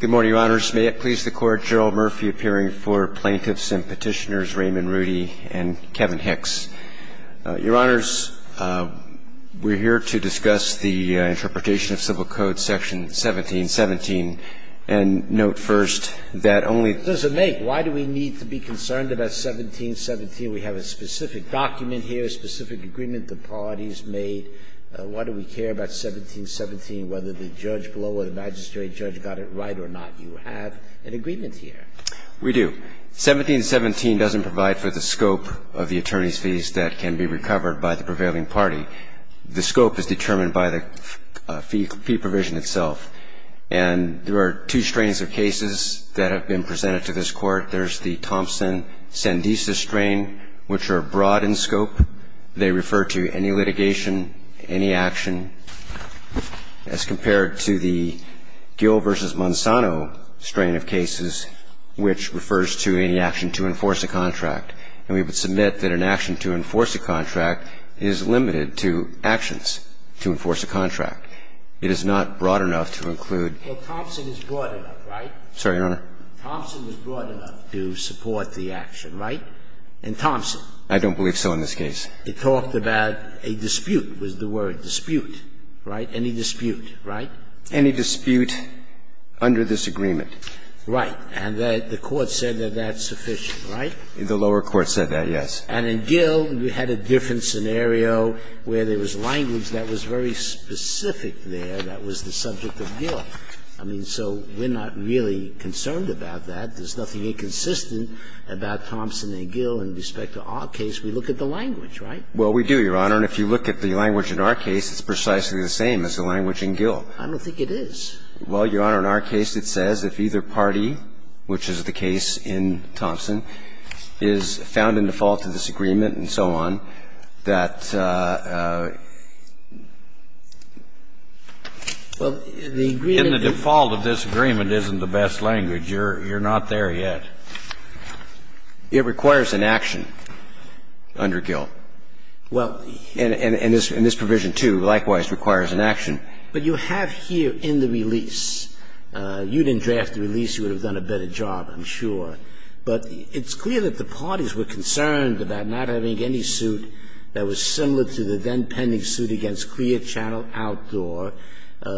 Good morning, Your Honors. May it please the Court, General Murphy appearing for Plaintiffs and Petitioners, Raymond Reudy and Kevin Hicks. Your Honors, we're here to discuss the interpretation of Civil Code Section 1717, and note first that only Does it make? Why do we need to be concerned about 1717? We have a specific document here, a specific agreement the parties made. Why do we care about 1717, whether the judge below or the magistrate judge got it right or not? You have an agreement here. We do. 1717 doesn't provide for the scope of the attorney's fees that can be recovered by the prevailing party. The scope is determined by the fee provision itself. And there are two strains of cases that have been presented to this Court. There's the Thompson-Sandesa strain, which are broad in scope. They refer to any litigation, any action. As compared to the Gill v. Monsanto strain of cases, which refers to any action to enforce a contract. And we would submit that an action to enforce a contract is limited to actions to enforce a contract. It is not broad enough to include any action to enforce a contract. It is not broad enough to support the action. Right? In Thompson? I don't believe so in this case. It talked about a dispute was the word, dispute. Right? Any dispute. Right? Any dispute under this agreement. Right. And the Court said that that's sufficient. Right? The lower court said that, yes. And in Gill, we had a different scenario where there was language that was very specific there that was the subject of Gill. I mean, so we're not really concerned about that. There's nothing inconsistent about Thompson v. Gill in respect to our case. We look at the language. Right? Well, we do, Your Honor. And if you look at the language in our case, it's precisely the same as the language in Gill. I don't think it is. Well, Your Honor, in our case it says if either party, which is the case in Thompson, is found in default of this agreement and so on, that the default of this agreement isn't the best language. You're not there yet. It requires an action under Gill. And this provision, too, likewise requires an action. But you have here in the release. You didn't draft the release. You would have done a better job, I'm sure. But it's clear that the parties were concerned about not having any suit that was similar to the then-pending suit against Clear Channel Outdoor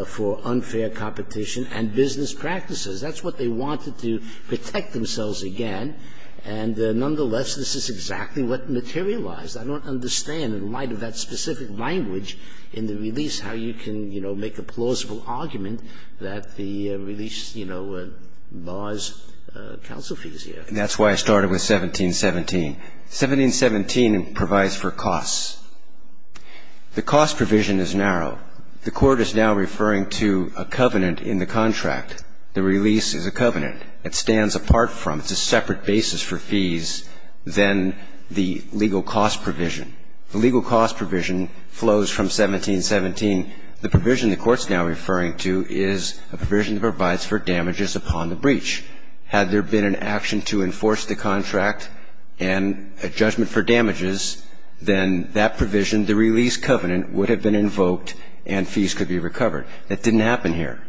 for unfair competition and business practices. That's what they wanted to protect themselves again. And nonetheless, this is exactly what materialized. I don't understand in light of that specific language in the release how you can, you know, make a plausible argument that the release, you know, buys counsel fees here. That's why I started with 1717. 1717 provides for costs. The cost provision is narrow. The Court is now referring to a covenant in the contract. The release is a covenant. It stands apart from, it's a separate basis for fees than the legal cost provision. The legal cost provision flows from 1717. The provision the Court's now referring to is a provision that provides for damages upon the breach. Had there been an action to enforce the contract and a judgment for damages, then that provision, the release covenant, would have been invoked and fees could be recovered. That didn't happen here.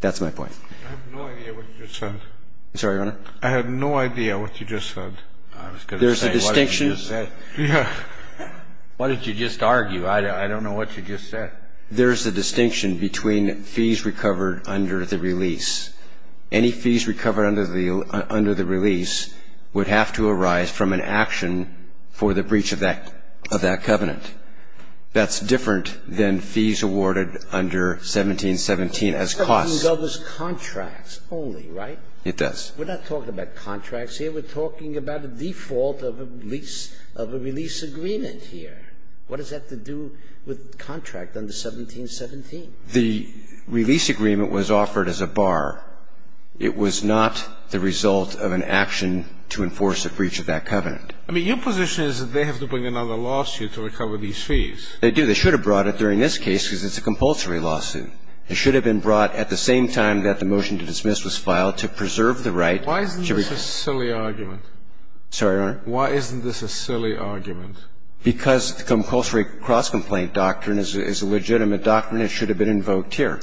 That's my point. I have no idea what you just said. I'm sorry, Your Honor? I have no idea what you just said. I was going to say, what did you just say? There's a distinction. Yeah. What did you just argue? I don't know what you just said. There's a distinction between fees recovered under the release. Any fees recovered under the release would have to arise from an action for the breach of that covenant. That's different than fees awarded under 1717 as costs. 1717 covers contracts only, right? It does. We're not talking about contracts here. We're talking about a default of a lease of a release agreement here. What does that have to do with contract under 1717? The release agreement was offered as a bar. It was not the result of an action to enforce a breach of that covenant. I mean, your position is that they have to bring another lawsuit to recover these fees. They do. They should have brought it during this case because it's a compulsory lawsuit. It should have been brought at the same time that the motion to dismiss was filed to preserve the right. Why isn't this a silly argument? Sorry, Your Honor? Why isn't this a silly argument? Because the compulsory cross-complaint doctrine is a legitimate doctrine. It should have been invoked here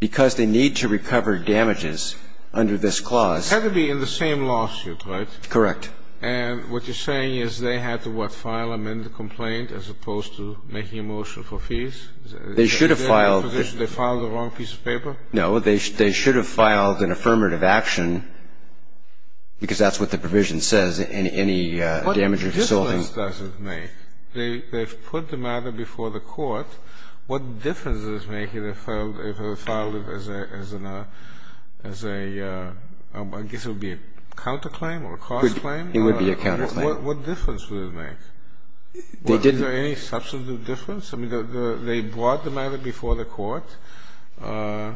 because they need to recover damages under this clause. It had to be in the same lawsuit, right? Correct. And what you're saying is they had to, what, file amend the complaint as opposed to making a motion for fees? They should have filed the wrong piece of paper? No, they should have filed an affirmative action because that's what the provision says, any damage or consulting. What difference does it make? They've put the matter before the court. What difference does it make if it was filed as a, I guess it would be a counterclaim or a cross-claim? It would be a counterclaim. What difference would it make? Was there any substitute difference? I mean, they brought the matter before the court. I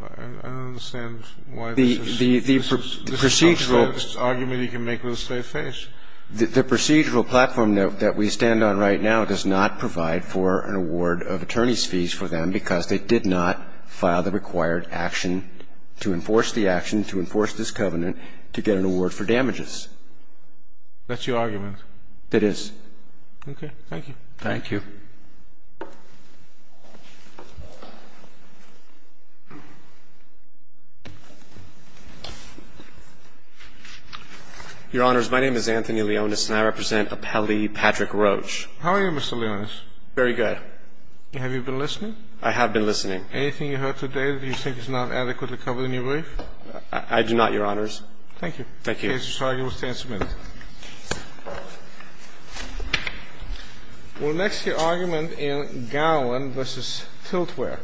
don't understand why this is the most argument you can make with a straight face. The procedural platform note that we stand on right now does not provide for an award of attorney's fees for them because they did not file the required action to enforce the action, to enforce this covenant, to get an award for damages. That's your argument? It is. Okay. Thank you. Thank you. Your Honors, my name is Anthony Leonis, and I represent Appellee Patrick Roach. How are you, Mr. Leonis? Very good. Have you been listening? I have been listening. Anything you heard today that you think is not adequately covered in your brief? I do not, Your Honors. Thank you. Thank you. The case is argued. We'll stand some minutes. We'll next hear argument in Garland v. Tiltware.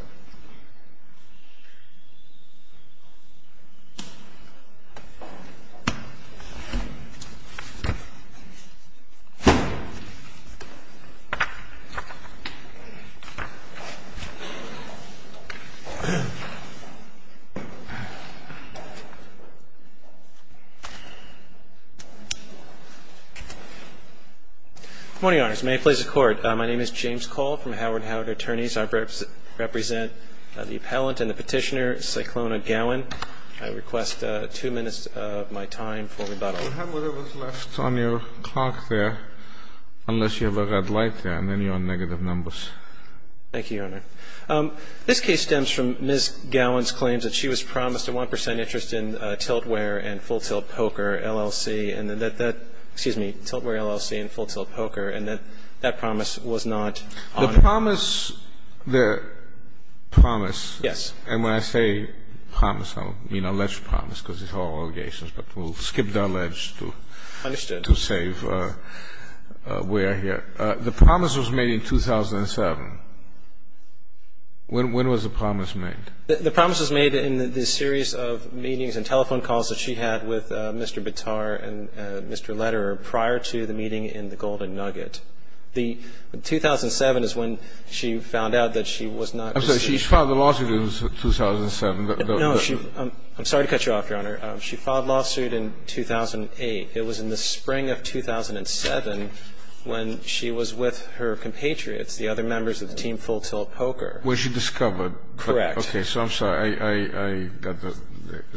Good morning, Your Honors. May I please the Court? My name is James Cole from Howard & Howard Attorneys. I represent the appellant and the petitioner, Cyclona Gowan. I request two minutes of my time for rebuttal. You have whatever is left on your clock there unless you have a red light there, and then you're on negative numbers. Thank you, Your Honor. This case stems from Ms. Gowan's claims that she was promised a 1 percent interest in Tiltware LLC and Full Tilt Poker, and that that promise was not honored. The promise, the promise. Yes. And when I say promise, I don't mean alleged promise because it's all allegations, but we'll skip the alleged to save where we are here. The promise was made in 2007. When was the promise made? The promise was made in the series of meetings and telephone calls that she had with Mr. Bitar and Mr. Lederer prior to the meeting in the Golden Nugget. The 2007 is when she found out that she was not received. I'm sorry. She filed a lawsuit in 2007. No. I'm sorry to cut you off, Your Honor. She filed a lawsuit in 2008. It was in the spring of 2007 when she was with her compatriots, the other members of the team Full Tilt Poker. When she discovered. Correct. Okay. So I'm sorry.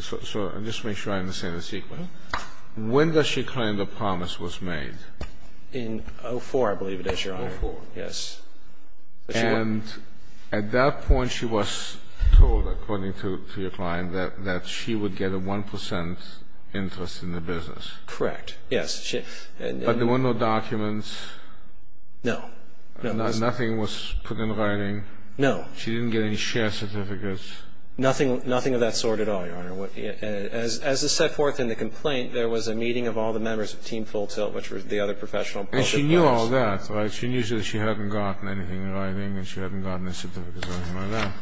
So just to make sure I understand the sequence. When does she claim the promise was made? In 2004, I believe it is, Your Honor. 2004. Yes. And at that point she was told, according to your client, that she would get a 1% interest in the business. Correct. Yes. But there were no documents? No. Nothing was put in writing? No. She didn't get any share certificates? Nothing of that sort at all, Your Honor. As is set forth in the complaint, there was a meeting of all the members of Team Full Tilt, which was the other professional poker players. And she knew all that, right? She knew that she hadn't gotten anything in writing and she hadn't gotten a certificate or anything like that.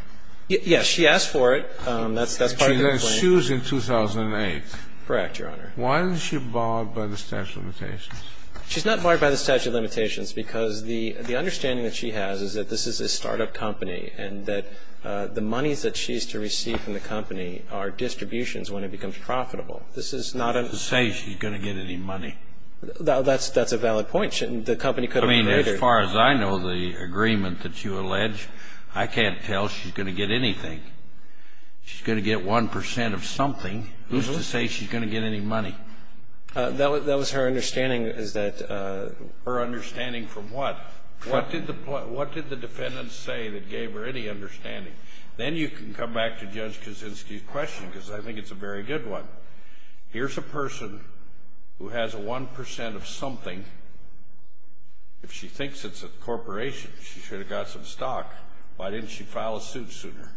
Yes. She asked for it. That's part of the complaint. She then sues in 2008. Correct, Your Honor. Why is she barred by the statute of limitations? She's not barred by the statute of limitations because the understanding that she has is that this is a startup company and that the monies that she's to receive from the company are distributions when it becomes profitable. This is not a ---- To say she's going to get any money. That's a valid point. The company could have ---- I mean, as far as I know, the agreement that you allege, I can't tell she's going to get anything. She's going to get 1% of something. Who's to say she's going to get any money? That was her understanding is that ---- Her understanding from what? What did the defendant say that gave her any understanding? Then you can come back to Judge Kaczynski's question because I think it's a very good one. Here's a person who has a 1% of something. If she thinks it's a corporation, she should have got some stock. Why didn't she file a suit sooner?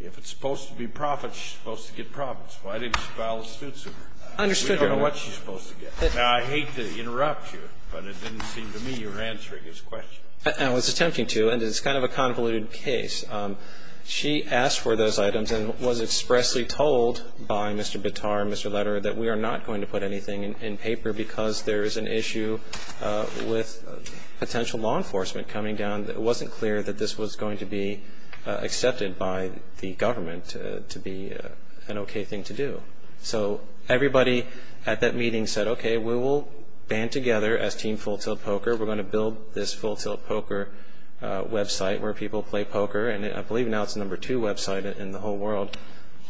If it's supposed to be profits, she's supposed to get profits. Why didn't she file a suit sooner? I understood, Your Honor. We don't know what she's supposed to get. Now, I hate to interrupt you, but it didn't seem to me you were answering his question. I was attempting to, and it's kind of a convoluted case. She asked for those items and was expressly told by Mr. Bitar and Mr. Lederer that we are not going to put anything in paper because there is an issue with potential law enforcement coming down. It wasn't clear that this was going to be accepted by the government to be an okay thing to do. So everybody at that meeting said, okay, we will band together as Team Full Tilt Poker. We're going to build this Full Tilt Poker website where people play poker. And I believe now it's the number two website in the whole world.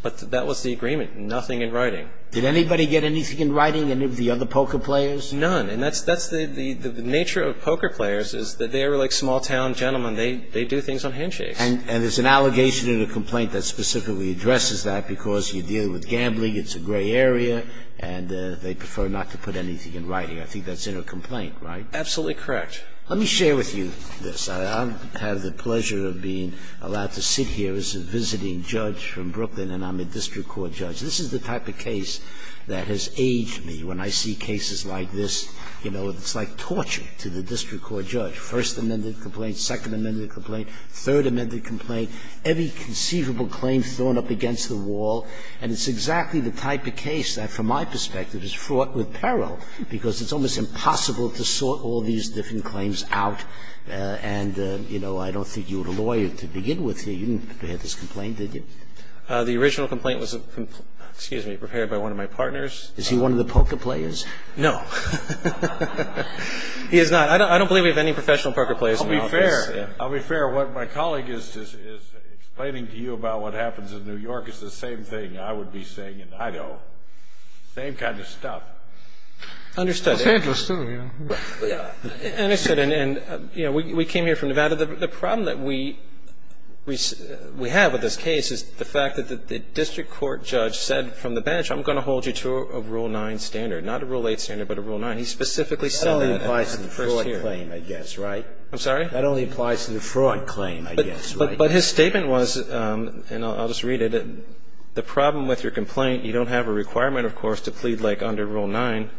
But that was the agreement, nothing in writing. Did anybody get anything in writing, any of the other poker players? None. And that's the nature of poker players is that they're like small-town gentlemen. They do things on handshakes. And it's an allegation in a complaint that specifically addresses that because you're dealing with gambling, it's a gray area, and they prefer not to put anything in writing. I think that's in a complaint, right? Absolutely correct. Let me share with you this. I have the pleasure of being allowed to sit here as a visiting judge from Brooklyn, and I'm a district court judge. This is the type of case that has aged me. When I see cases like this, you know, it's like torture to the district court judge, first amended complaint, second amended complaint, third amended complaint, every conceivable claim thrown up against the wall. And it's exactly the type of case that, from my perspective, is fraught with peril because it's almost impossible to sort all these different claims out. And, you know, I don't think you were a lawyer to begin with here. You didn't prepare this complaint, did you? The original complaint was, excuse me, prepared by one of my partners. Is he one of the poker players? No. He is not. I don't believe we have any professional poker players in the office. I'll be fair. I'll be fair. What my colleague is explaining to you about what happens in New York is the same thing I would be saying in Idaho. Same kind of stuff. Understood. It's dangerous, too. Understood. And, you know, we came here from Nevada. The problem that we have with this case is the fact that the district court judge said from the bench, I'm going to hold you to a Rule 9 standard, not a Rule 8 standard, but a Rule 9. And he specifically said that at the first hearing. That only applies to the fraud claim, I guess, right? I'm sorry? That only applies to the fraud claim, I guess, right? But his statement was, and I'll just read it, the problem with your complaint, you don't have a requirement, of course, to plead like under Rule 9,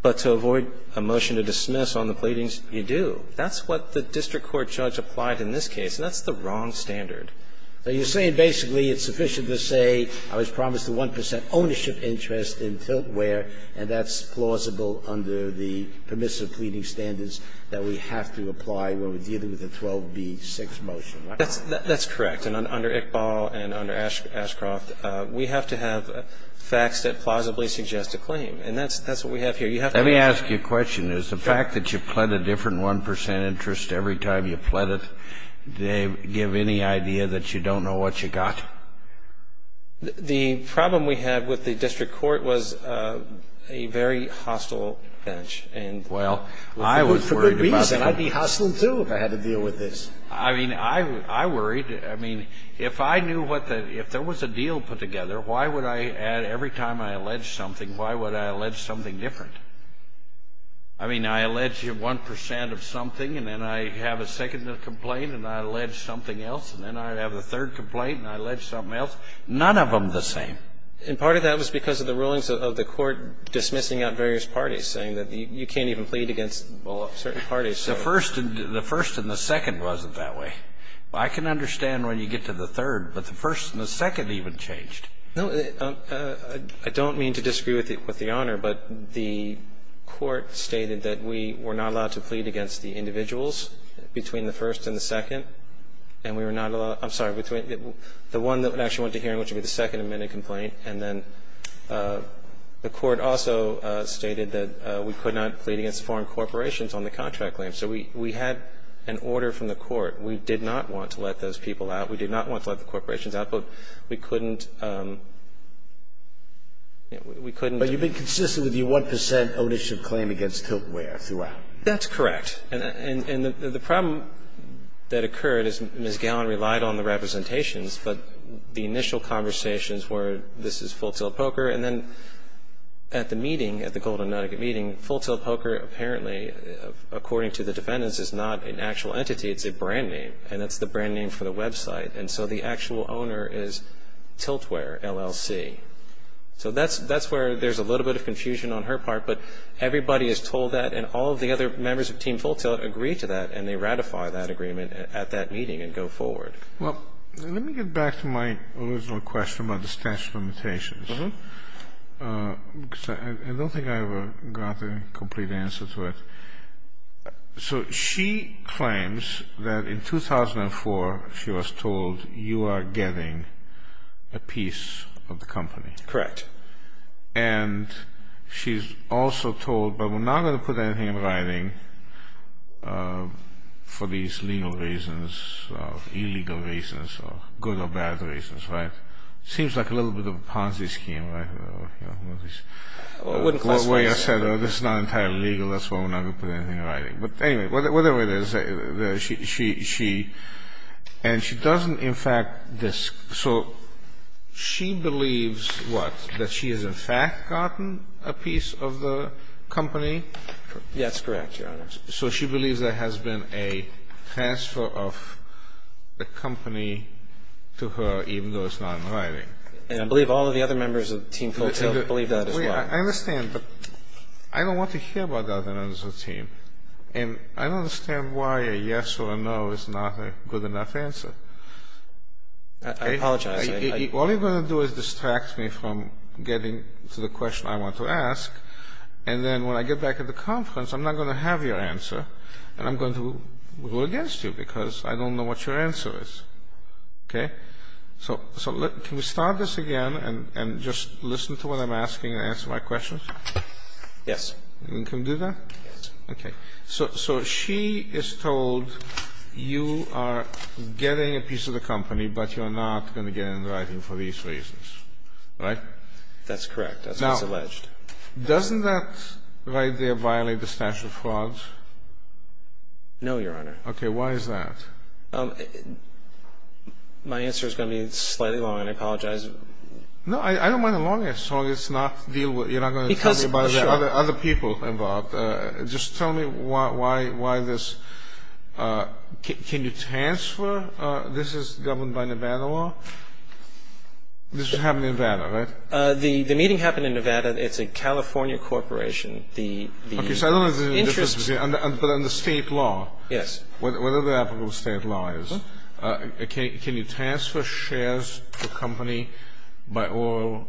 but to avoid a motion to dismiss on the pleadings, you do. That's what the district court judge applied in this case. And that's the wrong standard. So you're saying basically it's sufficient to say I was promised a 1 percent ownership interest in Tiltware, and that's plausible under the permissive pleading standards that we have to apply when we're dealing with a 12b6 motion, right? That's correct. And under Iqbal and under Ashcroft, we have to have facts that plausibly suggest a claim. And that's what we have here. You have to have facts. Let me ask you a question. Is the fact that you pled a different 1 percent interest every time you pled it, do they give any idea that you don't know what you got? The problem we had with the district court was a very hostile bench. And, well, I was worried about that. For good reason. I'd be hostile, too, if I had to deal with this. I mean, I worried. I mean, if I knew what the – if there was a deal put together, why would I add every time I allege something, why would I allege something different? I mean, I allege 1 percent of something, and then I have a second complaint, and I allege something else, and then I have a third complaint, and I allege something else. None of them the same. And part of that was because of the rulings of the court dismissing out various parties, saying that you can't even plead against, well, certain parties. The first and the second wasn't that way. I can understand when you get to the third, but the first and the second even changed. No. I don't mean to disagree with the Honor, but the court stated that we were not allowed to plead against the individuals between the first and the second, and we were not allowed – I'm sorry, between the one that actually went to hearing, which would be the second amended complaint, and then the court also stated that we could not plead against foreign corporations on the contract claim. So we had an order from the court. We did not want to let those people out. We did not want to let the corporations out, but we couldn't – we couldn't But you've been consistent with your 1 percent ownership claim against Tiltware throughout. That's correct. And the problem that occurred is Ms. Gallen relied on the representations, but the initial conversations were this is Full Tilt Poker. And then at the meeting, at the Golden Nugget meeting, Full Tilt Poker apparently, according to the defendants, is not an actual entity. It's a brand name, and that's the brand name for the website. And so the actual owner is Tiltware LLC. So that's – that's where there's a little bit of confusion on her part, but everybody is told that, and all of the other members of Team Full Tilt agree to that, and they ratify that agreement at that meeting and go forward. Well, let me get back to my original question about the statute of limitations, because I don't think I ever got a complete answer to it. So she claims that in 2004 she was told you are getting a piece of the company. Correct. And she's also told, but we're not going to put anything in writing for these legal reasons or illegal reasons or good or bad reasons, right? Seems like a little bit of a Ponzi scheme, right? Well, it wouldn't cost money. This is not entirely legal. That's why we're not going to put anything in writing. But anyway, whatever it is, she – and she doesn't, in fact – so she believes what? That she has, in fact, gotten a piece of the company? That's correct, Your Honor. So she believes there has been a transfer of the company to her, even though it's not in writing. And I believe all of the other members of Team Phil Till believe that as well. I understand, but I don't want to hear about the other members of the team. And I don't understand why a yes or a no is not a good enough answer. I apologize. All you're going to do is distract me from getting to the question I want to ask, and then when I get back at the conference, I'm not going to have your answer, and I'm going to go against you because I don't know what your answer is. Okay? So can we start this again and just listen to what I'm asking and answer my questions? Yes. Can we do that? Yes. Okay. So she is told you are getting a piece of the company, but you're not going to get it in writing for these reasons, right? That's correct. That's what's alleged. Now, doesn't that right there violate the statute of frauds? No, Your Honor. Okay. Why is that? My answer is going to be slightly long, and I apologize. No, I don't mind as long as you're not going to tell me about other people involved. Just tell me why this. Can you transfer? This is governed by Nevada law? This was happening in Nevada, right? The meeting happened in Nevada. It's a California corporation. Okay, so I don't know if there's any difference, but under state law. Yes. What other applicable state laws? Can you transfer shares to a company by oral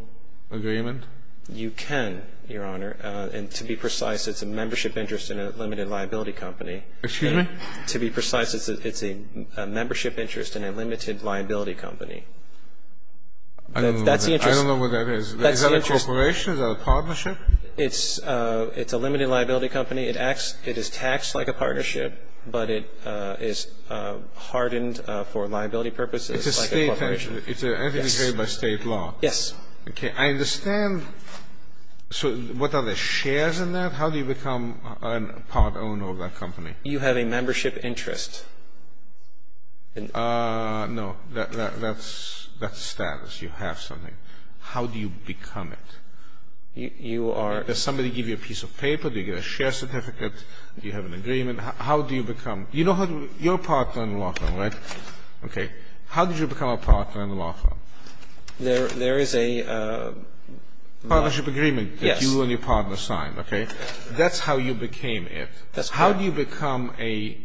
agreement? You can, Your Honor. And to be precise, it's a membership interest in a limited liability company. Excuse me? To be precise, it's a membership interest in a limited liability company. I don't know what that is. Is that a corporation? Is that a partnership? It's a limited liability company. It is taxed like a partnership, but it is hardened for liability purposes like a corporation. It's an entity created by state law. Yes. Okay. I understand. So what are the shares in that? How do you become a part owner of that company? You have a membership interest. No. That's status. You have something. How do you become it? You are. Does somebody give you a piece of paper? Do you get a share certificate? Do you have an agreement? How do you become? You know your partner in law firm, right? Okay. How did you become a partner in law firm? There is a... Partnership agreement that you and your partner signed. Yes. Okay. That's how you became it. That's correct. How do you become a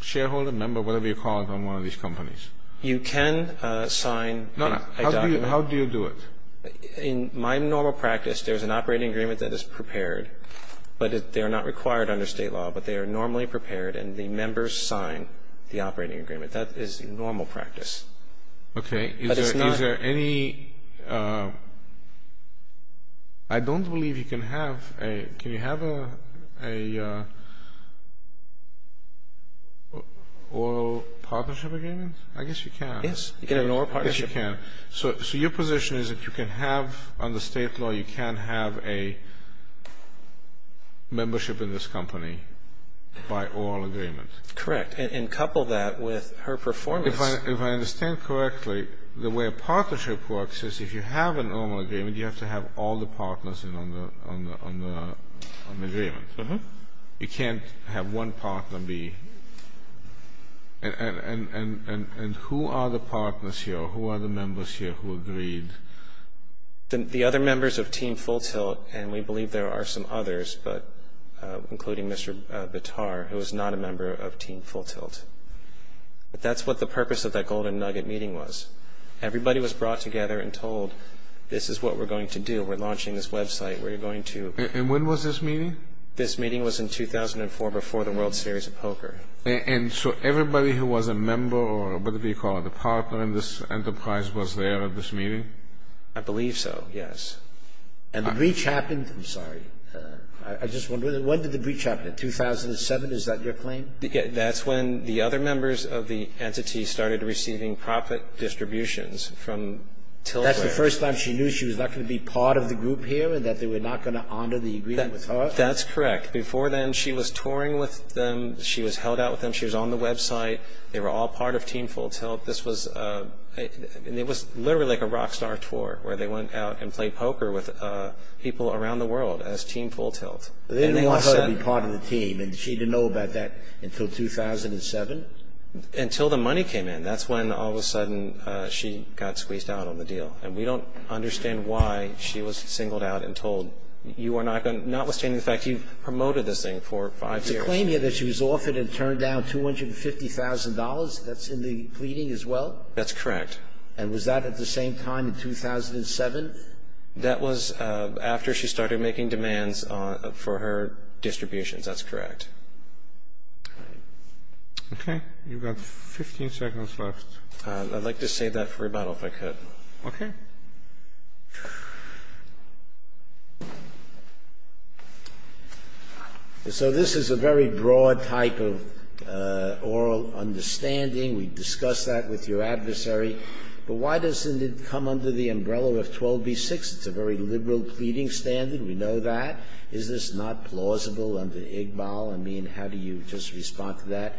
shareholder, member, whatever you call it, on one of these companies? You can sign a document. No, no. How do you do it? In my normal practice, there is an operating agreement that is prepared, but they are not required under state law, but they are normally prepared, and the members sign the operating agreement. That is normal practice. Okay. But it's not... Is there any... I don't believe you can have a... Can you have a... Oil partnership agreement? I guess you can. Yes. You can have an oil partnership. Yes, you can. So your position is that you can have, under state law, you can have a membership in this company by oil agreement. Correct. And couple that with her performance. If I understand correctly, the way a partnership works is if you have an oil agreement, you have to have all the partners on the agreement. You can't have one partner be... And who are the partners here? Who are the members here who agreed? The other members of Team Full Tilt, and we believe there are some others, including Mr. Bitar, who is not a member of Team Full Tilt. But that's what the purpose of that Golden Nugget meeting was. Everybody was brought together and told, this is what we're going to do. We're launching this website. We're going to... And when was this meeting? This meeting was in 2004, before the World Series of Poker. And so everybody who was a member or, what do you call it, a partner in this enterprise was there at this meeting? I believe so, yes. And the breach happened... I'm sorry. I just wonder, when did the breach happen? In 2007, is that your claim? That's when the other members of the entity started receiving profit distributions from Tiltware. That's the first time she knew she was not going to be part of the group here and that they were not going to honor the agreement with her? That's correct. Before then, she was touring with them. She was held out with them. She was on the website. They were all part of Team Full Tilt. This was literally like a rock star tour, where they went out and played poker with people around the world as Team Full Tilt. They didn't want her to be part of the team, and she didn't know about that until 2007? Until the money came in. That's when, all of a sudden, she got squeezed out on the deal. And we don't understand why she was singled out and told, notwithstanding the fact you've promoted this thing for five years... Your claim here that she was offered and turned down $250,000, that's in the pleading as well? That's correct. And was that at the same time in 2007? That was after she started making demands for her distributions. That's correct. Okay. You've got 15 seconds left. I'd like to save that for rebuttal, if I could. Okay. So this is a very broad type of oral understanding. We've discussed that with your adversary. But why doesn't it come under the umbrella of 12b-6? It's a very liberal pleading standard. We know that. Is this not plausible under Iqbal? I mean, how do you just respond to that?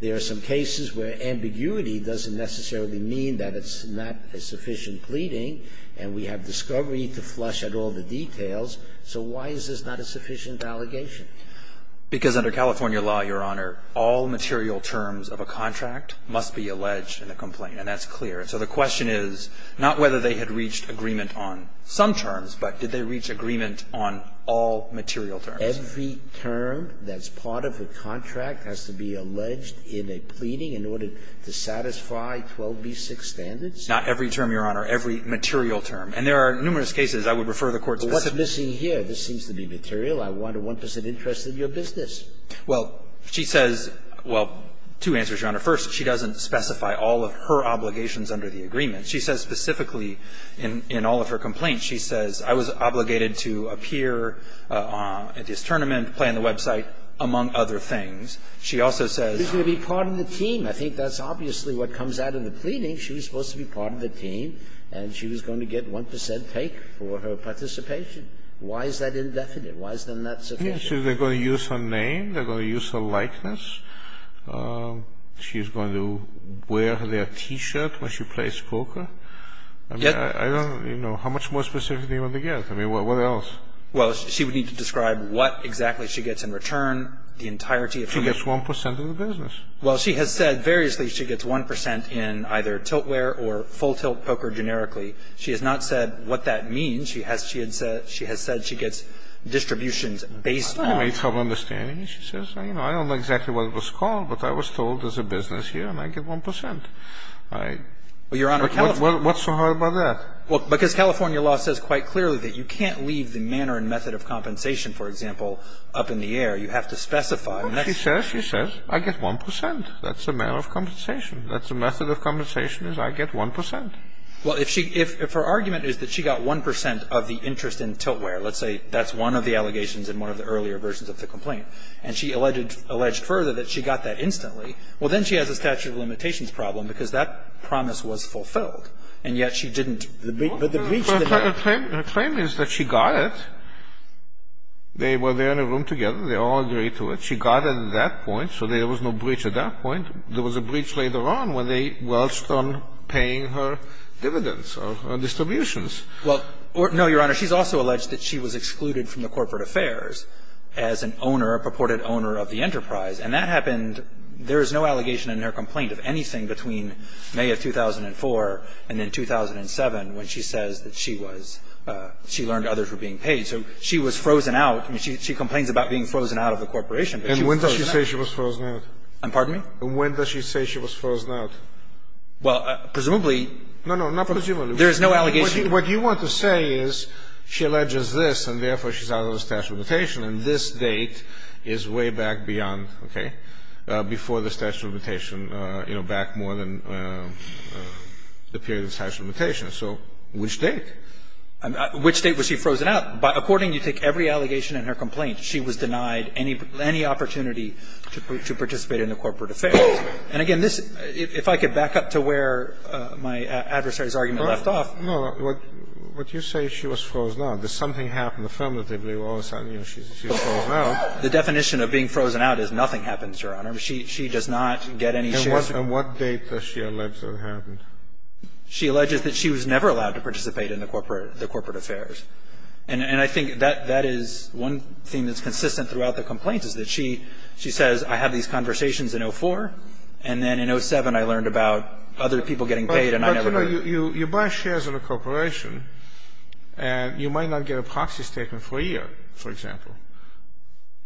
There are some cases where ambiguity doesn't necessarily mean that it's not a sufficient pleading. And we have discovery to flush out all the details. So why is this not a sufficient allegation? Because under California law, Your Honor, all material terms of a contract must be alleged in a complaint. And that's clear. And so the question is not whether they had reached agreement on some terms, but did they reach agreement on all material terms? Every term that's part of a contract has to be alleged in a pleading in order to satisfy 12b-6 standards? Not every term, Your Honor. Every material term. And there are numerous cases I would refer the Court to. But what's missing here? This seems to be material. I want a 1 percent interest in your business. Well, she says – well, two answers, Your Honor. First, she doesn't specify all of her obligations under the agreement. She says specifically in all of her complaints, she says, I was obligated to appear at this tournament, play on the website, among other things. She also says – She's going to be part of the team. I think that's obviously what comes out of the pleading. She was supposed to be part of the team. And she was going to get 1 percent take for her participation. Why is that indefinite? Why isn't that sufficient? She's going to use her name. They're going to use her likeness. She's going to wear their T-shirt when she plays poker. I mean, I don't – you know, how much more specific do you want to get? I mean, what else? Well, she would need to describe what exactly she gets in return, the entirety of her – She gets 1 percent of the business. Well, she has said variously she gets 1 percent in either tiltware or full tilt poker generically. She has not said what that means. She has said she gets distributions based on – I made some understanding. She says, you know, I don't know exactly what it was called, but I was told there's a business here and I get 1 percent. I – Well, Your Honor, California – What's so hard about that? Well, because California law says quite clearly that you can't leave the manner and method of compensation, for example, up in the air. You have to specify. She says, she says, I get 1 percent. That's the manner of compensation. That's the method of compensation is I get 1 percent. Well, if she – if her argument is that she got 1 percent of the interest in tiltware, let's say that's one of the allegations in one of the earlier versions of the complaint, and she alleged further that she got that instantly, well, then she has a statute of limitations problem because that promise was fulfilled. And yet she didn't – the breach – Her claim is that she got it. They were there in a room together. They all agreed to it. She got it at that point, so there was no breach at that point. There was a breach later on when they welched on paying her dividends or her distributions. Well, no, Your Honor. She's also alleged that she was excluded from the corporate affairs as an owner, a purported owner of the enterprise. And that happened – there is no allegation in her complaint of anything between May of 2004 and then 2007 when she says that she was – she learned others were being paid. So she was frozen out. She complains about being frozen out of the corporation, but she was frozen out. And when does she say she was frozen out? I'm pardon me? When does she say she was frozen out? Well, presumably – No, no. Not presumably. There is no allegation. What you want to say is she alleges this, and therefore she's out of the statute of limitation, and this date is way back beyond, okay, before the statute of limitation, you know, back more than the period of the statute of limitation. So which date? Which date was she frozen out? According to every allegation in her complaint, she was denied any opportunity to participate in the corporate affairs. And, again, this – if I could back up to where my adversary's argument left off. No, no. What you say, she was frozen out. Does something happen affirmatively where all of a sudden, you know, she's frozen out? The definition of being frozen out is nothing happens, Your Honor. She does not get any shares. And what date does she allege that it happened? She alleges that she was never allowed to participate in the corporate affairs. And I think that is one thing that's consistent throughout the complaint, is that she says, I had these conversations in 04, and then in 07 I learned about other people getting paid, and I never did. No, no, no. You buy shares in a corporation, and you might not get a proxy statement for a year, for example.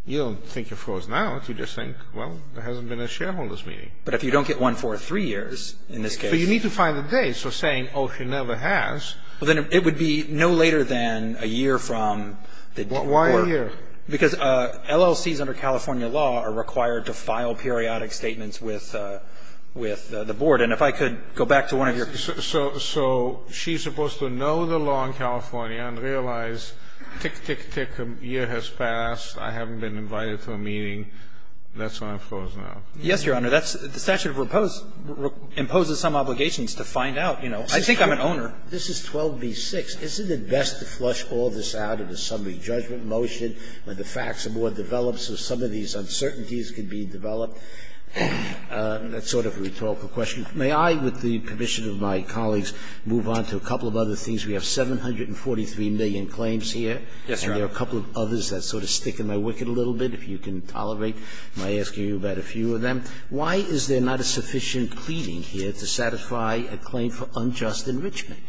You don't think you're frozen out. You just think, well, there hasn't been a shareholder's meeting. But if you don't get one for three years, in this case. So you need to find the date. So saying, oh, she never has. Well, then it would be no later than a year from the court. Why a year? Because LLCs under California law are required to file periodic statements with the board. And if I could go back to one of your questions. So she's supposed to know the law in California and realize, tick, tick, tick, a year has passed, I haven't been invited to a meeting. That's why I'm frozen out. Yes, Your Honor. That's the statute of repose imposes some obligations to find out, you know. I think I'm an owner. This is 12b-6. Isn't it best to flush all this out in a summary judgment motion when the facts are more developed so some of these uncertainties can be developed? That's sort of a rhetorical question. May I, with the permission of my colleagues, move on to a couple of other things? We have 743 million claims here. Yes, Your Honor. And there are a couple of others that sort of stick in my wicket a little bit, if you can tolerate my asking you about a few of them. Why is there not a sufficient pleading here to satisfy a claim for unjust enrichment?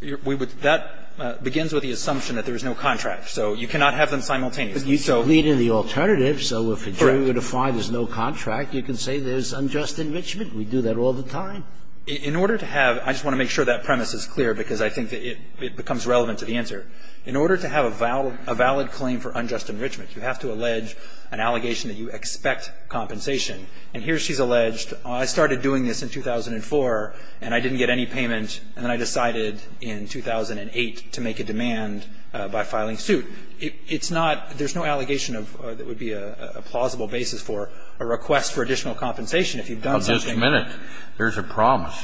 That begins with the assumption that there is no contract. So you cannot have them simultaneously. But you plead in the alternative. Correct. If you were to find there's no contract, you can say there's unjust enrichment. We do that all the time. In order to have – I just want to make sure that premise is clear because I think that it becomes relevant to the answer. In order to have a valid claim for unjust enrichment, you have to allege an allegation that you expect compensation. And here she's alleged, I started doing this in 2004 and I didn't get any payment and then I decided in 2008 to make a demand by filing suit. It's not – there's no allegation that would be a plausible basis for a request for additional compensation if you've done something. Just a minute. There's a promise.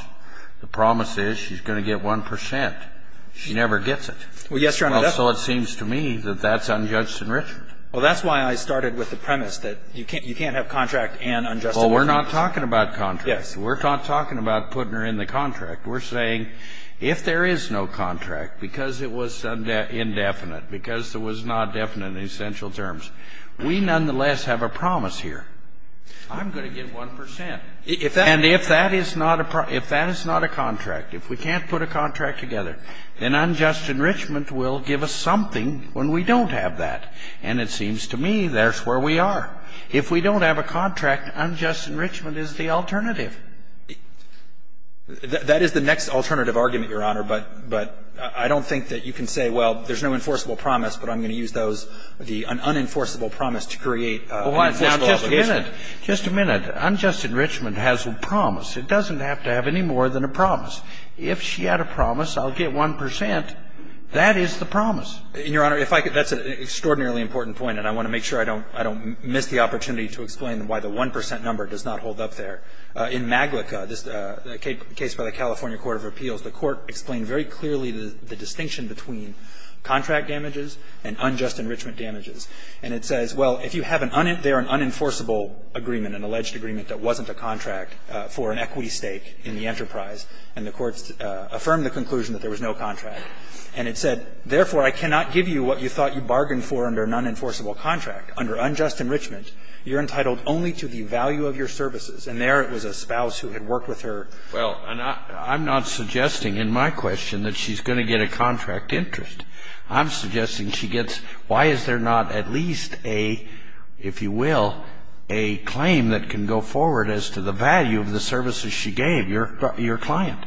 The promise is she's going to get 1 percent. She never gets it. Well, yes, Your Honor. So it seems to me that that's unjust enrichment. Well, that's why I started with the premise that you can't have contract and unjust enrichment. Well, we're not talking about contract. Yes. We're not talking about putting her in the contract. We're saying if there is no contract, because it was indefinite, because there was not definite in essential terms, we nonetheless have a promise here. I'm going to get 1 percent. And if that is not a – if that is not a contract, if we can't put a contract together, then unjust enrichment will give us something when we don't have that. And it seems to me that's where we are. If we don't have a contract, unjust enrichment is the alternative. That is the next alternative argument, Your Honor, but I don't think that you can say, well, there's no enforceable promise, but I'm going to use those, the unenforceable promise to create an enforceable obligation. Well, just a minute. Just a minute. Unjust enrichment has a promise. It doesn't have to have any more than a promise. If she had a promise, I'll get 1 percent, that is the promise. And, Your Honor, if I could – that's an extraordinarily important point, and I want to make sure I don't miss the opportunity to explain why the 1 percent number does not hold up there. In Maglica, this case by the California Court of Appeals, the Court explained very clearly the distinction between contract damages and unjust enrichment damages. And it says, well, if you have an – they're an unenforceable agreement, an alleged agreement that wasn't a contract for an equity stake in the enterprise, and the Court affirmed the conclusion that there was no contract. And it said, therefore, I cannot give you what you thought you bargained for under an unenforceable contract. Under unjust enrichment, you're entitled only to the value of your services. And there it was a spouse who had worked with her. Well, and I'm not suggesting in my question that she's going to get a contract interest. I'm suggesting she gets – why is there not at least a, if you will, a claim that can go forward as to the value of the services she gave your client?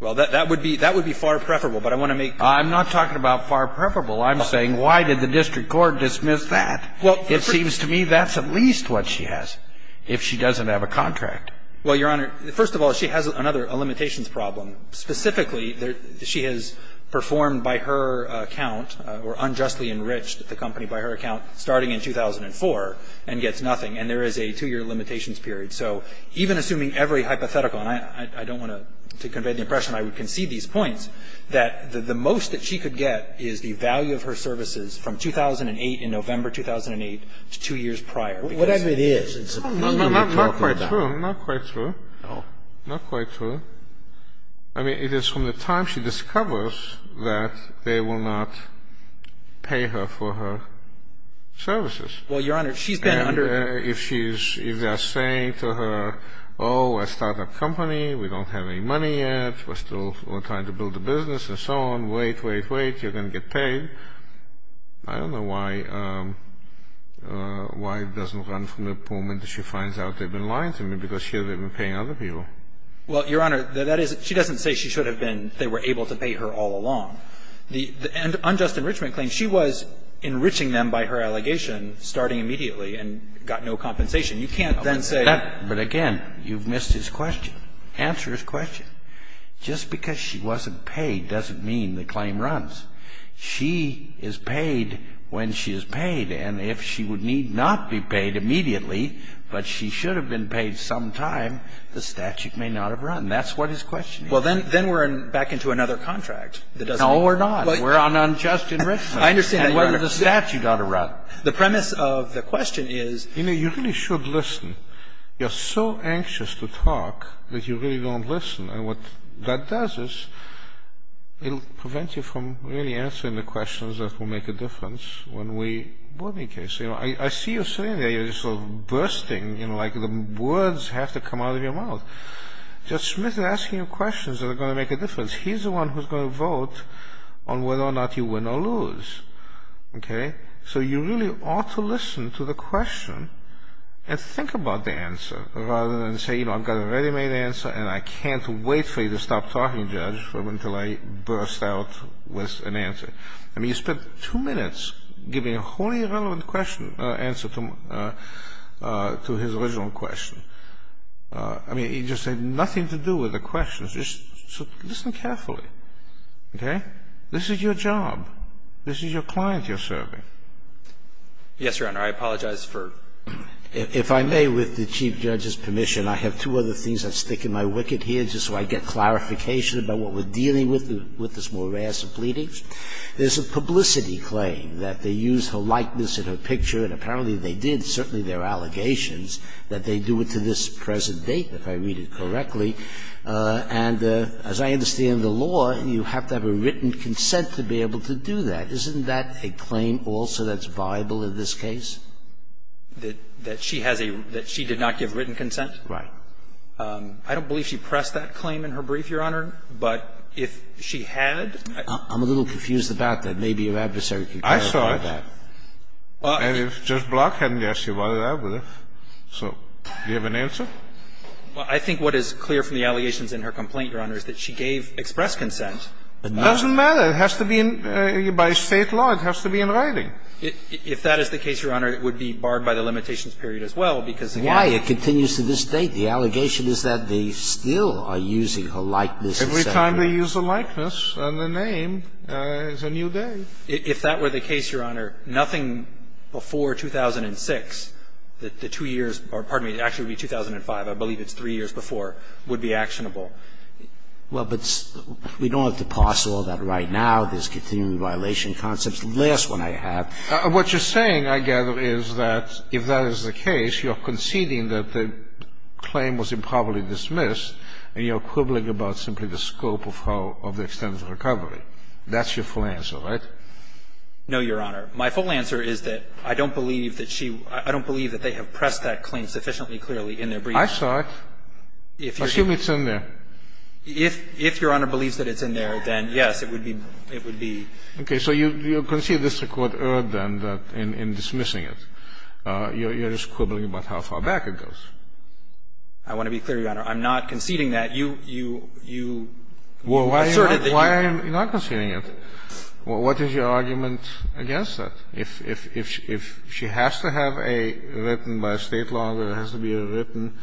Well, that would be far preferable, but I want to make clear. I'm not talking about far preferable. I'm saying why did the district court dismiss that? It seems to me that's at least what she has if she doesn't have a contract. Well, Your Honor, first of all, she has another limitations problem. Specifically, she has performed by her account or unjustly enriched the company by her account starting in 2004 and gets nothing. And there is a two-year limitations period. So even assuming every hypothetical, and I don't want to convey the impression I would concede these points, that the most that she could get is the value of her services from 2008, in November 2008, to two years prior. Whatever it is, it's a premium. Not quite true. Not quite true. No. Not quite true. I mean, it is from the time she discovers that they will not pay her for her services. Well, Your Honor, she's been under – And if she's – if they're saying to her, oh, we're a startup company, we don't have any money yet, we're still trying to build a business and so on, wait, wait, wait, you're going to get paid, I don't know why it doesn't run from the moment that she finds out they've been lying to me because she hasn't been paying other people. Well, Your Honor, that is – she doesn't say she should have been – they were able to pay her all along. And unjust enrichment claims, she was enriching them by her allegation starting immediately and got no compensation. You can't then say – But again, you've missed his question. Answer his question. Just because she wasn't paid doesn't mean the claim runs. She is paid when she is paid. And if she would need not be paid immediately, but she should have been paid sometime, the statute may not have run. That's what his question is. Well, then we're back into another contract that doesn't – No, we're not. We're on unjust enrichment. I understand that, Your Honor. And whether the statute ought to run. The premise of the question is – You know, you really should listen. You're so anxious to talk that you really don't listen. And what that does is it'll prevent you from really answering the questions that will make a difference when we board the case. You know, I see you sitting there, you're just sort of bursting, you know, like the words have to come out of your mouth. Judge Smith is asking you questions that are going to make a difference. He's the one who's going to vote on whether or not you win or lose. Okay? So you really ought to listen to the question and think about the answer rather than say, you know, I've got a ready-made answer and I can't wait for you to stop talking, Judge, until I burst out with an answer. I mean, you spent two minutes giving a wholly irrelevant answer to his original question. I mean, he just said nothing to do with the questions. Just listen carefully. Okay? This is your job. This is your client you're serving. Yes, Your Honor. I apologize for ---- If I may, with the Chief Judge's permission, I have two other things. I'm sticking my wicket here just so I get clarification about what we're dealing with, with this morass of pleadings. There's a publicity claim that they used her likeness in her picture, and apparently they did, certainly there are allegations, that they do it to this present date, if I read it correctly. And as I understand the law, you have to have a written consent to be able to do that. Isn't that a claim also that's viable in this case? That she has a ---- that she did not give written consent? Right. I don't believe she pressed that claim in her brief, Your Honor. But if she had ---- I'm a little confused about that. Maybe your adversary can clarify that. I saw it. And if Judge Block hadn't asked you about it, I would have. So do you have an answer? Well, I think what is clear from the allegations in her complaint, Your Honor, is that she gave express consent. It doesn't matter. It has to be in ---- by State law, it has to be in writing. If that is the case, Your Honor, it would be barred by the limitations period as well, because again ---- Why? It continues to this date. The allegation is that they still are using her likeness. Every time they use a likeness, and the name is a new day. If that were the case, Your Honor, nothing before 2006, the two years or, pardon me, 2005, I believe it's three years before, would be actionable. Well, but we don't have to parse all that right now. There's continuing violation concepts. The last one I have ---- What you're saying, I gather, is that if that is the case, you're conceding that the claim was improperly dismissed, and you're quibbling about simply the scope of how the extent of the recovery. That's your full answer, right? No, Your Honor. My full answer is that I don't believe that she ---- I don't believe that they have I saw it. Assume it's in there. If Your Honor believes that it's in there, then yes, it would be ---- it would be. Okay. So you concede this to Court Erd then, that in dismissing it, you're just quibbling about how far back it goes. I want to be clear, Your Honor. I'm not conceding that. You asserted that you ---- Well, why are you not conceding it? What is your argument against that? If she has to have a written by a State law, there has to be a written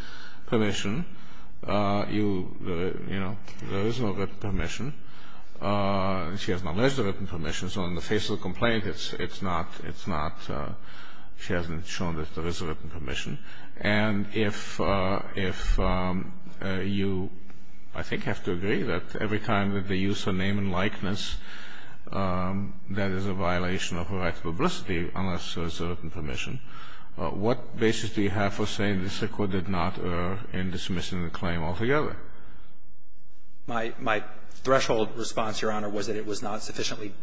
permission. You know, there is no written permission. She has not alleged a written permission, so in the face of the complaint, it's not ---- it's not ---- she hasn't shown that there is a written permission. And if you, I think, have to agree that every time that they use her name and likeness, that is a violation of her right to publicity, unless there is a written permission, what basis do you have for saying that this Court did not err in dismissing the claim altogether? My threshold response, Your Honor, was that it was not sufficiently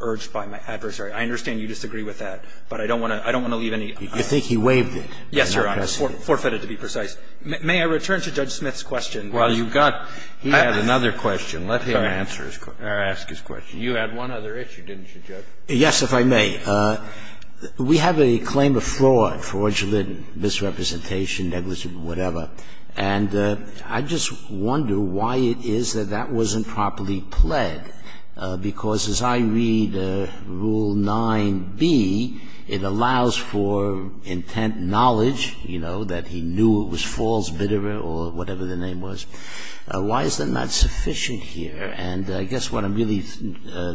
urged by my adversary. I understand you disagree with that, but I don't want to leave any ---- You think he waived it. Yes, Your Honor. Forfeited, to be precise. May I return to Judge Smith's question? Well, you've got ---- He has another question. Let him answer his question. May I ask his question? You had one other issue, didn't you, Judge? Yes, if I may. We have a claim of fraud, fraudulent misrepresentation, negligent, whatever. And I just wonder why it is that that wasn't properly pled, because as I read Rule 9b, it allows for intent knowledge, you know, that he knew it was false, bitter, or whatever the name was. Why is that not sufficient here? And I guess what I'm really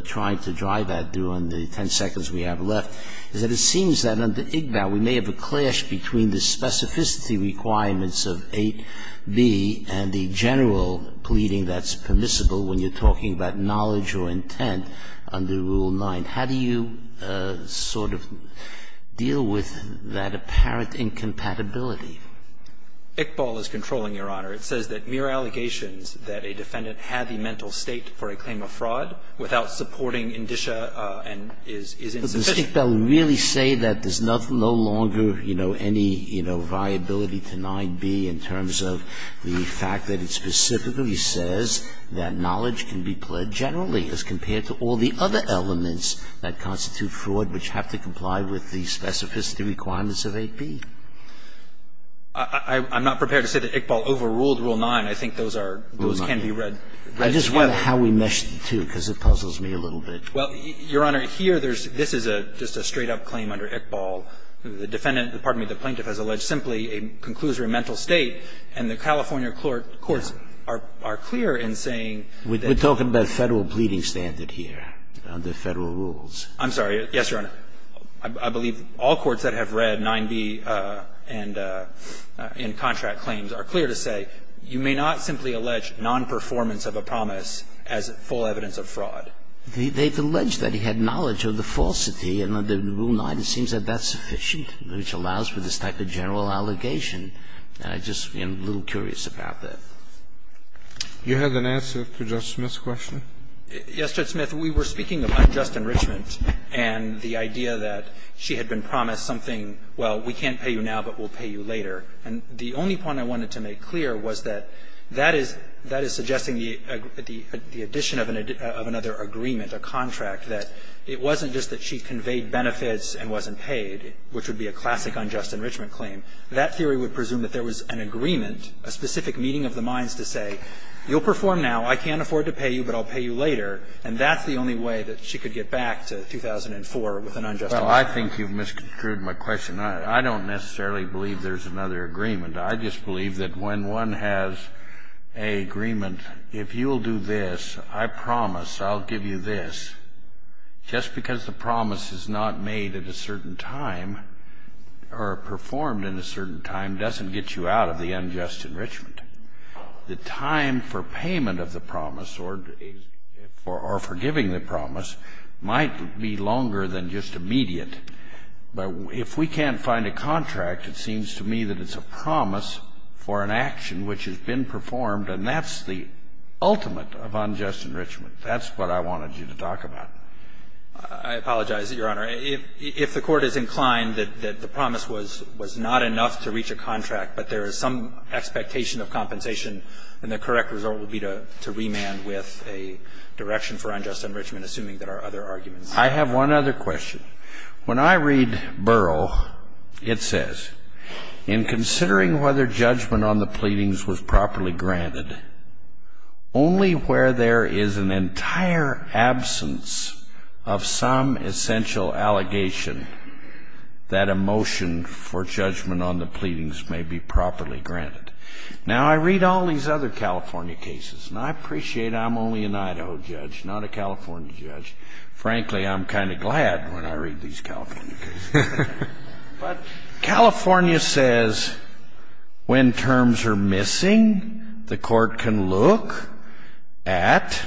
trying to drive at, through on the ten seconds we have left, is that it seems that under ICBAL we may have a clash between the specificity requirements of 8b and the general pleading that's permissible when you're talking about knowledge or intent under Rule 9. How do you sort of deal with that apparent incompatibility? ICBAL is controlling, Your Honor. It says that mere allegations that a defendant had a mental state for a claim of fraud without supporting indicia and is insufficient. But does ICBAL really say that there's no longer, you know, any, you know, viability to 9b in terms of the fact that it specifically says that knowledge can be pled generally as compared to all the other elements that constitute fraud which have to comply with the specificity requirements of 8b? I'm not prepared to say that ICBAL overruled Rule 9. I think those are, those can be read. I just wonder how we mesh the two, because it puzzles me a little bit. Well, Your Honor, here there's, this is just a straight-up claim under ICBAL. The defendant, pardon me, the plaintiff has alleged simply a conclusory mental state, and the California courts are clear in saying that. We're talking about Federal pleading standard here under Federal rules. I'm sorry. Yes, Your Honor. I believe all courts that have read 9b and contract claims are clear to say you may not simply allege nonperformance of a promise as full evidence of fraud. They've alleged that he had knowledge of the falsity, and under Rule 9 it seems that that's sufficient, which allows for this type of general allegation. And I just am a little curious about that. You have an answer to Judge Smith's question? Yes, Judge Smith. We were speaking of unjust enrichment and the idea that she had been promised something, well, we can't pay you now, but we'll pay you later. And the only point I wanted to make clear was that that is, that is suggesting the addition of another agreement, a contract, that it wasn't just that she conveyed benefits and wasn't paid, which would be a classic unjust enrichment claim. That theory would presume that there was an agreement, a specific meeting of the minds to say you'll perform now, I can't afford to pay you, but I'll pay you later. And that's the only way that she could get back to 2004 with an unjust enrichment. Well, I think you've misconstrued my question. I don't necessarily believe there's another agreement. I just believe that when one has an agreement, if you'll do this, I promise, I'll give you this, just because the promise is not made at a certain time or performed in a certain time doesn't get you out of the unjust enrichment. The time for payment of the promise or for giving the promise might be longer than just immediate, but if we can't find a contract, it seems to me that it's a promise for an action which has been performed, and that's the ultimate of unjust enrichment. That's what I wanted you to talk about. I apologize, Your Honor. If the Court is inclined that the promise was not enough to reach a contract, but there is some expectation of compensation, then the correct result would be to remand with a direction for unjust enrichment, assuming there are other arguments. I have one other question. When I read Burrough, it says, in considering whether judgment on the pleadings was properly granted, only where there is an entire absence of some essential allegation, that a motion for judgment on the pleadings may be properly granted. Now, I read all these other California cases, and I appreciate I'm only an Idaho judge, not a California judge. Frankly, I'm kind of glad when I read these California cases. But California says when terms are missing, the Court can look at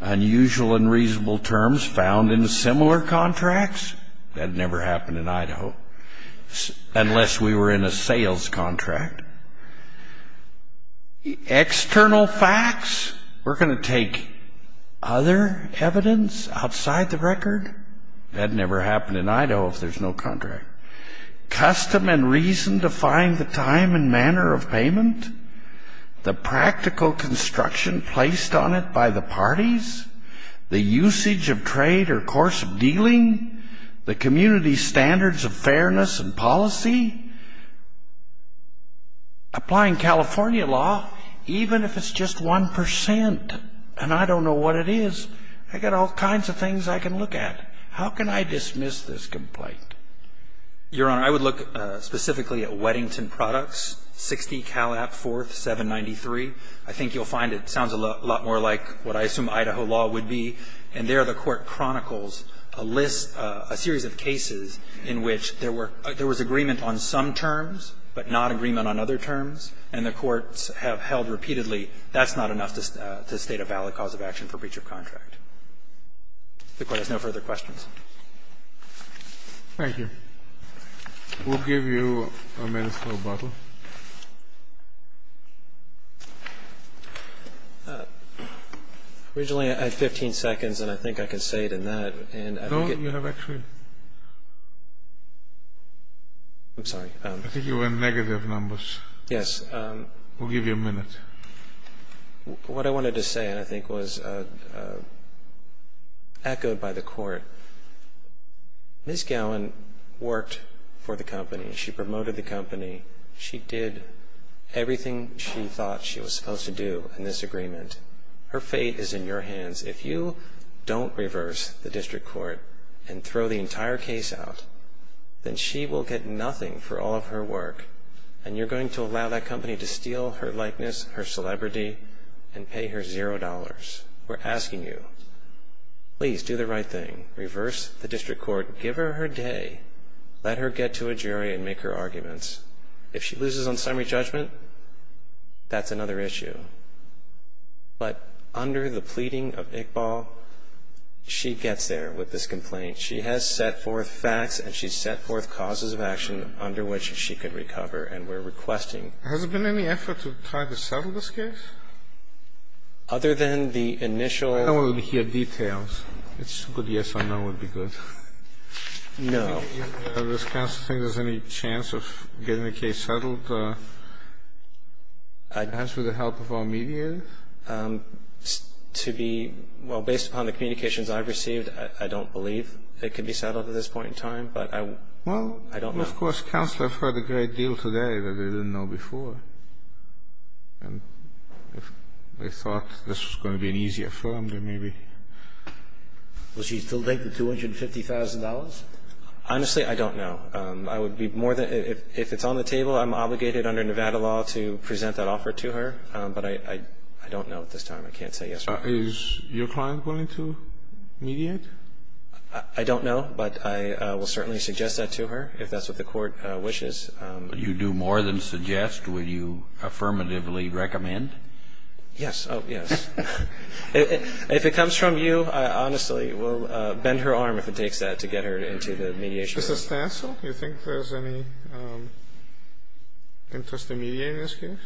unusual and reasonable terms found in similar contracts. That never happened in Idaho, unless we were in a sales contract. External facts, we're going to take other evidence outside the record. That never happened in Idaho if there's no contract. Custom and reason define the time and manner of payment, the practical construction placed on it by the parties, the usage of trade or course of dealing, the community standards of fairness and policy. Applying California law, even if it's just 1%, and I don't know what it is, I've got all kinds of things I can look at. How can I dismiss this complaint? Your Honor, I would look specifically at Weddington Products, 60 Calap 4th, 793. I think you'll find it sounds a lot more like what I assume Idaho law would be. And there the Court chronicles a list, a series of cases in which there were – there was agreement on some terms, but not agreement on other terms. And the courts have held repeatedly that's not enough to state a valid cause of action for breach of contract. If the Court has no further questions. We'll give you a minute, Mr. Lobato. Originally I had 15 seconds, and I think I can say it in that. No, you have actually – I'm sorry. I think you were on negative numbers. Yes. We'll give you a minute. What I wanted to say, I think, was echoed by the Court. Ms. Gowan worked for the company. She promoted the company. She did everything she thought she was supposed to do in this agreement. Her fate is in your hands. If you don't reverse the district court and throw the entire case out, then she will get nothing for all of her work, and you're going to allow that company to steal her likeness, her celebrity, and pay her $0. We're asking you, please do the right thing. Reverse the district court. Give her her day. Let her get to a jury and make her arguments. If she loses on summary judgment, that's another issue. But under the pleading of Iqbal, she gets there with this complaint. She has set forth facts and she's set forth causes of action under which she could recover, and we're requesting – Has there been any effort to try to settle this case? Other than the initial – I don't want to hear details. It's a good yes or no would be good. No. Does counsel think there's any chance of getting the case settled, perhaps with the help of our mediators? To be – well, based upon the communications I've received, I don't believe it could be settled at this point in time. But I don't know. Well, of course, counsel have heard a great deal today that they didn't know before. And if they thought this was going to be an easier firm, then maybe. Will she still take the $250,000? Honestly, I don't know. I would be more than – if it's on the table, I'm obligated under Nevada law to present that offer to her. But I don't know at this time. I can't say yes or no. Is your client willing to mediate? I don't know. But I will certainly suggest that to her if that's what the Court wishes. You do more than suggest. Will you affirmatively recommend? Yes. Oh, yes. If it comes from you, I honestly will bend her arm if it takes that to get her into the mediation room. Mr. Stancil, do you think there's any interest in mediating this case?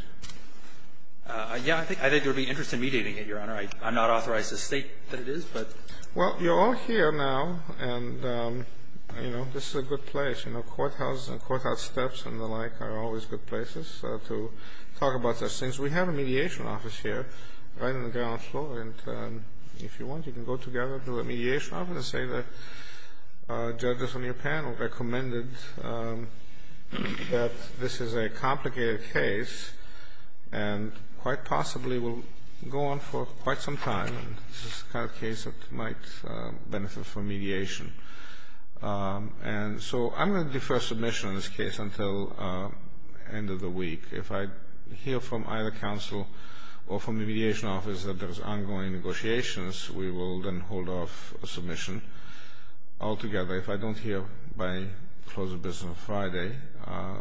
Yeah, I think there would be interest in mediating it, Your Honor. I'm not authorized to state that it is, but. Well, you're all here now, and, you know, this is a good place. You know, courthouses and courthouse steps and the like are always good places to talk about such things. We have a mediation office here right on the ground floor, and if you want you can go together to a mediation office and say that judges on your panel recommended that this is a complicated case and quite possibly will go on for quite some time, and this is the kind of case that might benefit from mediation. And so I'm going to defer submission on this case until the end of the week. If I hear from either counsel or from the mediation office that there's ongoing negotiations, we will then hold off submission altogether. If I don't hear by close of business on Friday,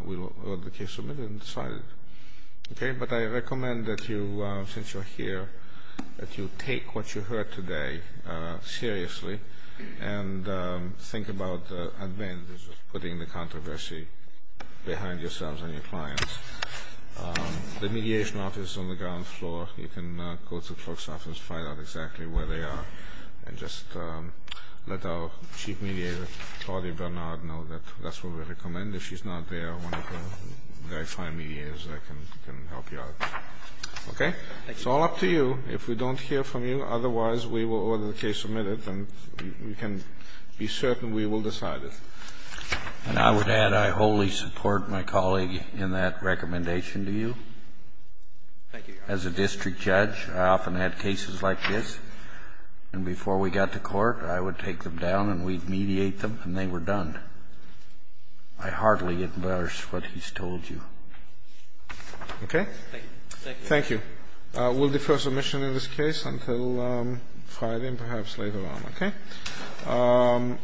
we will hold the case submitted and decide it. Okay? But I recommend that you, since you're here, that you take what you heard today seriously and think about the advantages of putting the controversy behind yourselves and your clients. The mediation office is on the ground floor. You can go to the clerk's office and find out exactly where they are and just let our chief mediator, Claudia Bernard, know that that's what we recommend. If she's not there, one of the very fine mediators can help you out. Okay? It's all up to you. If we don't hear from you, otherwise we will hold the case submitted and we can be certain we will decide it. And I would add I wholly support my colleague in that recommendation to you. Thank you, Your Honor. As a district judge, I often had cases like this, and before we got to court, I would take them down and we'd mediate them and they were done. I heartily endorse what he's told you. Okay? Thank you. Thank you. We'll defer submission in this case until Friday and perhaps later on. Okay?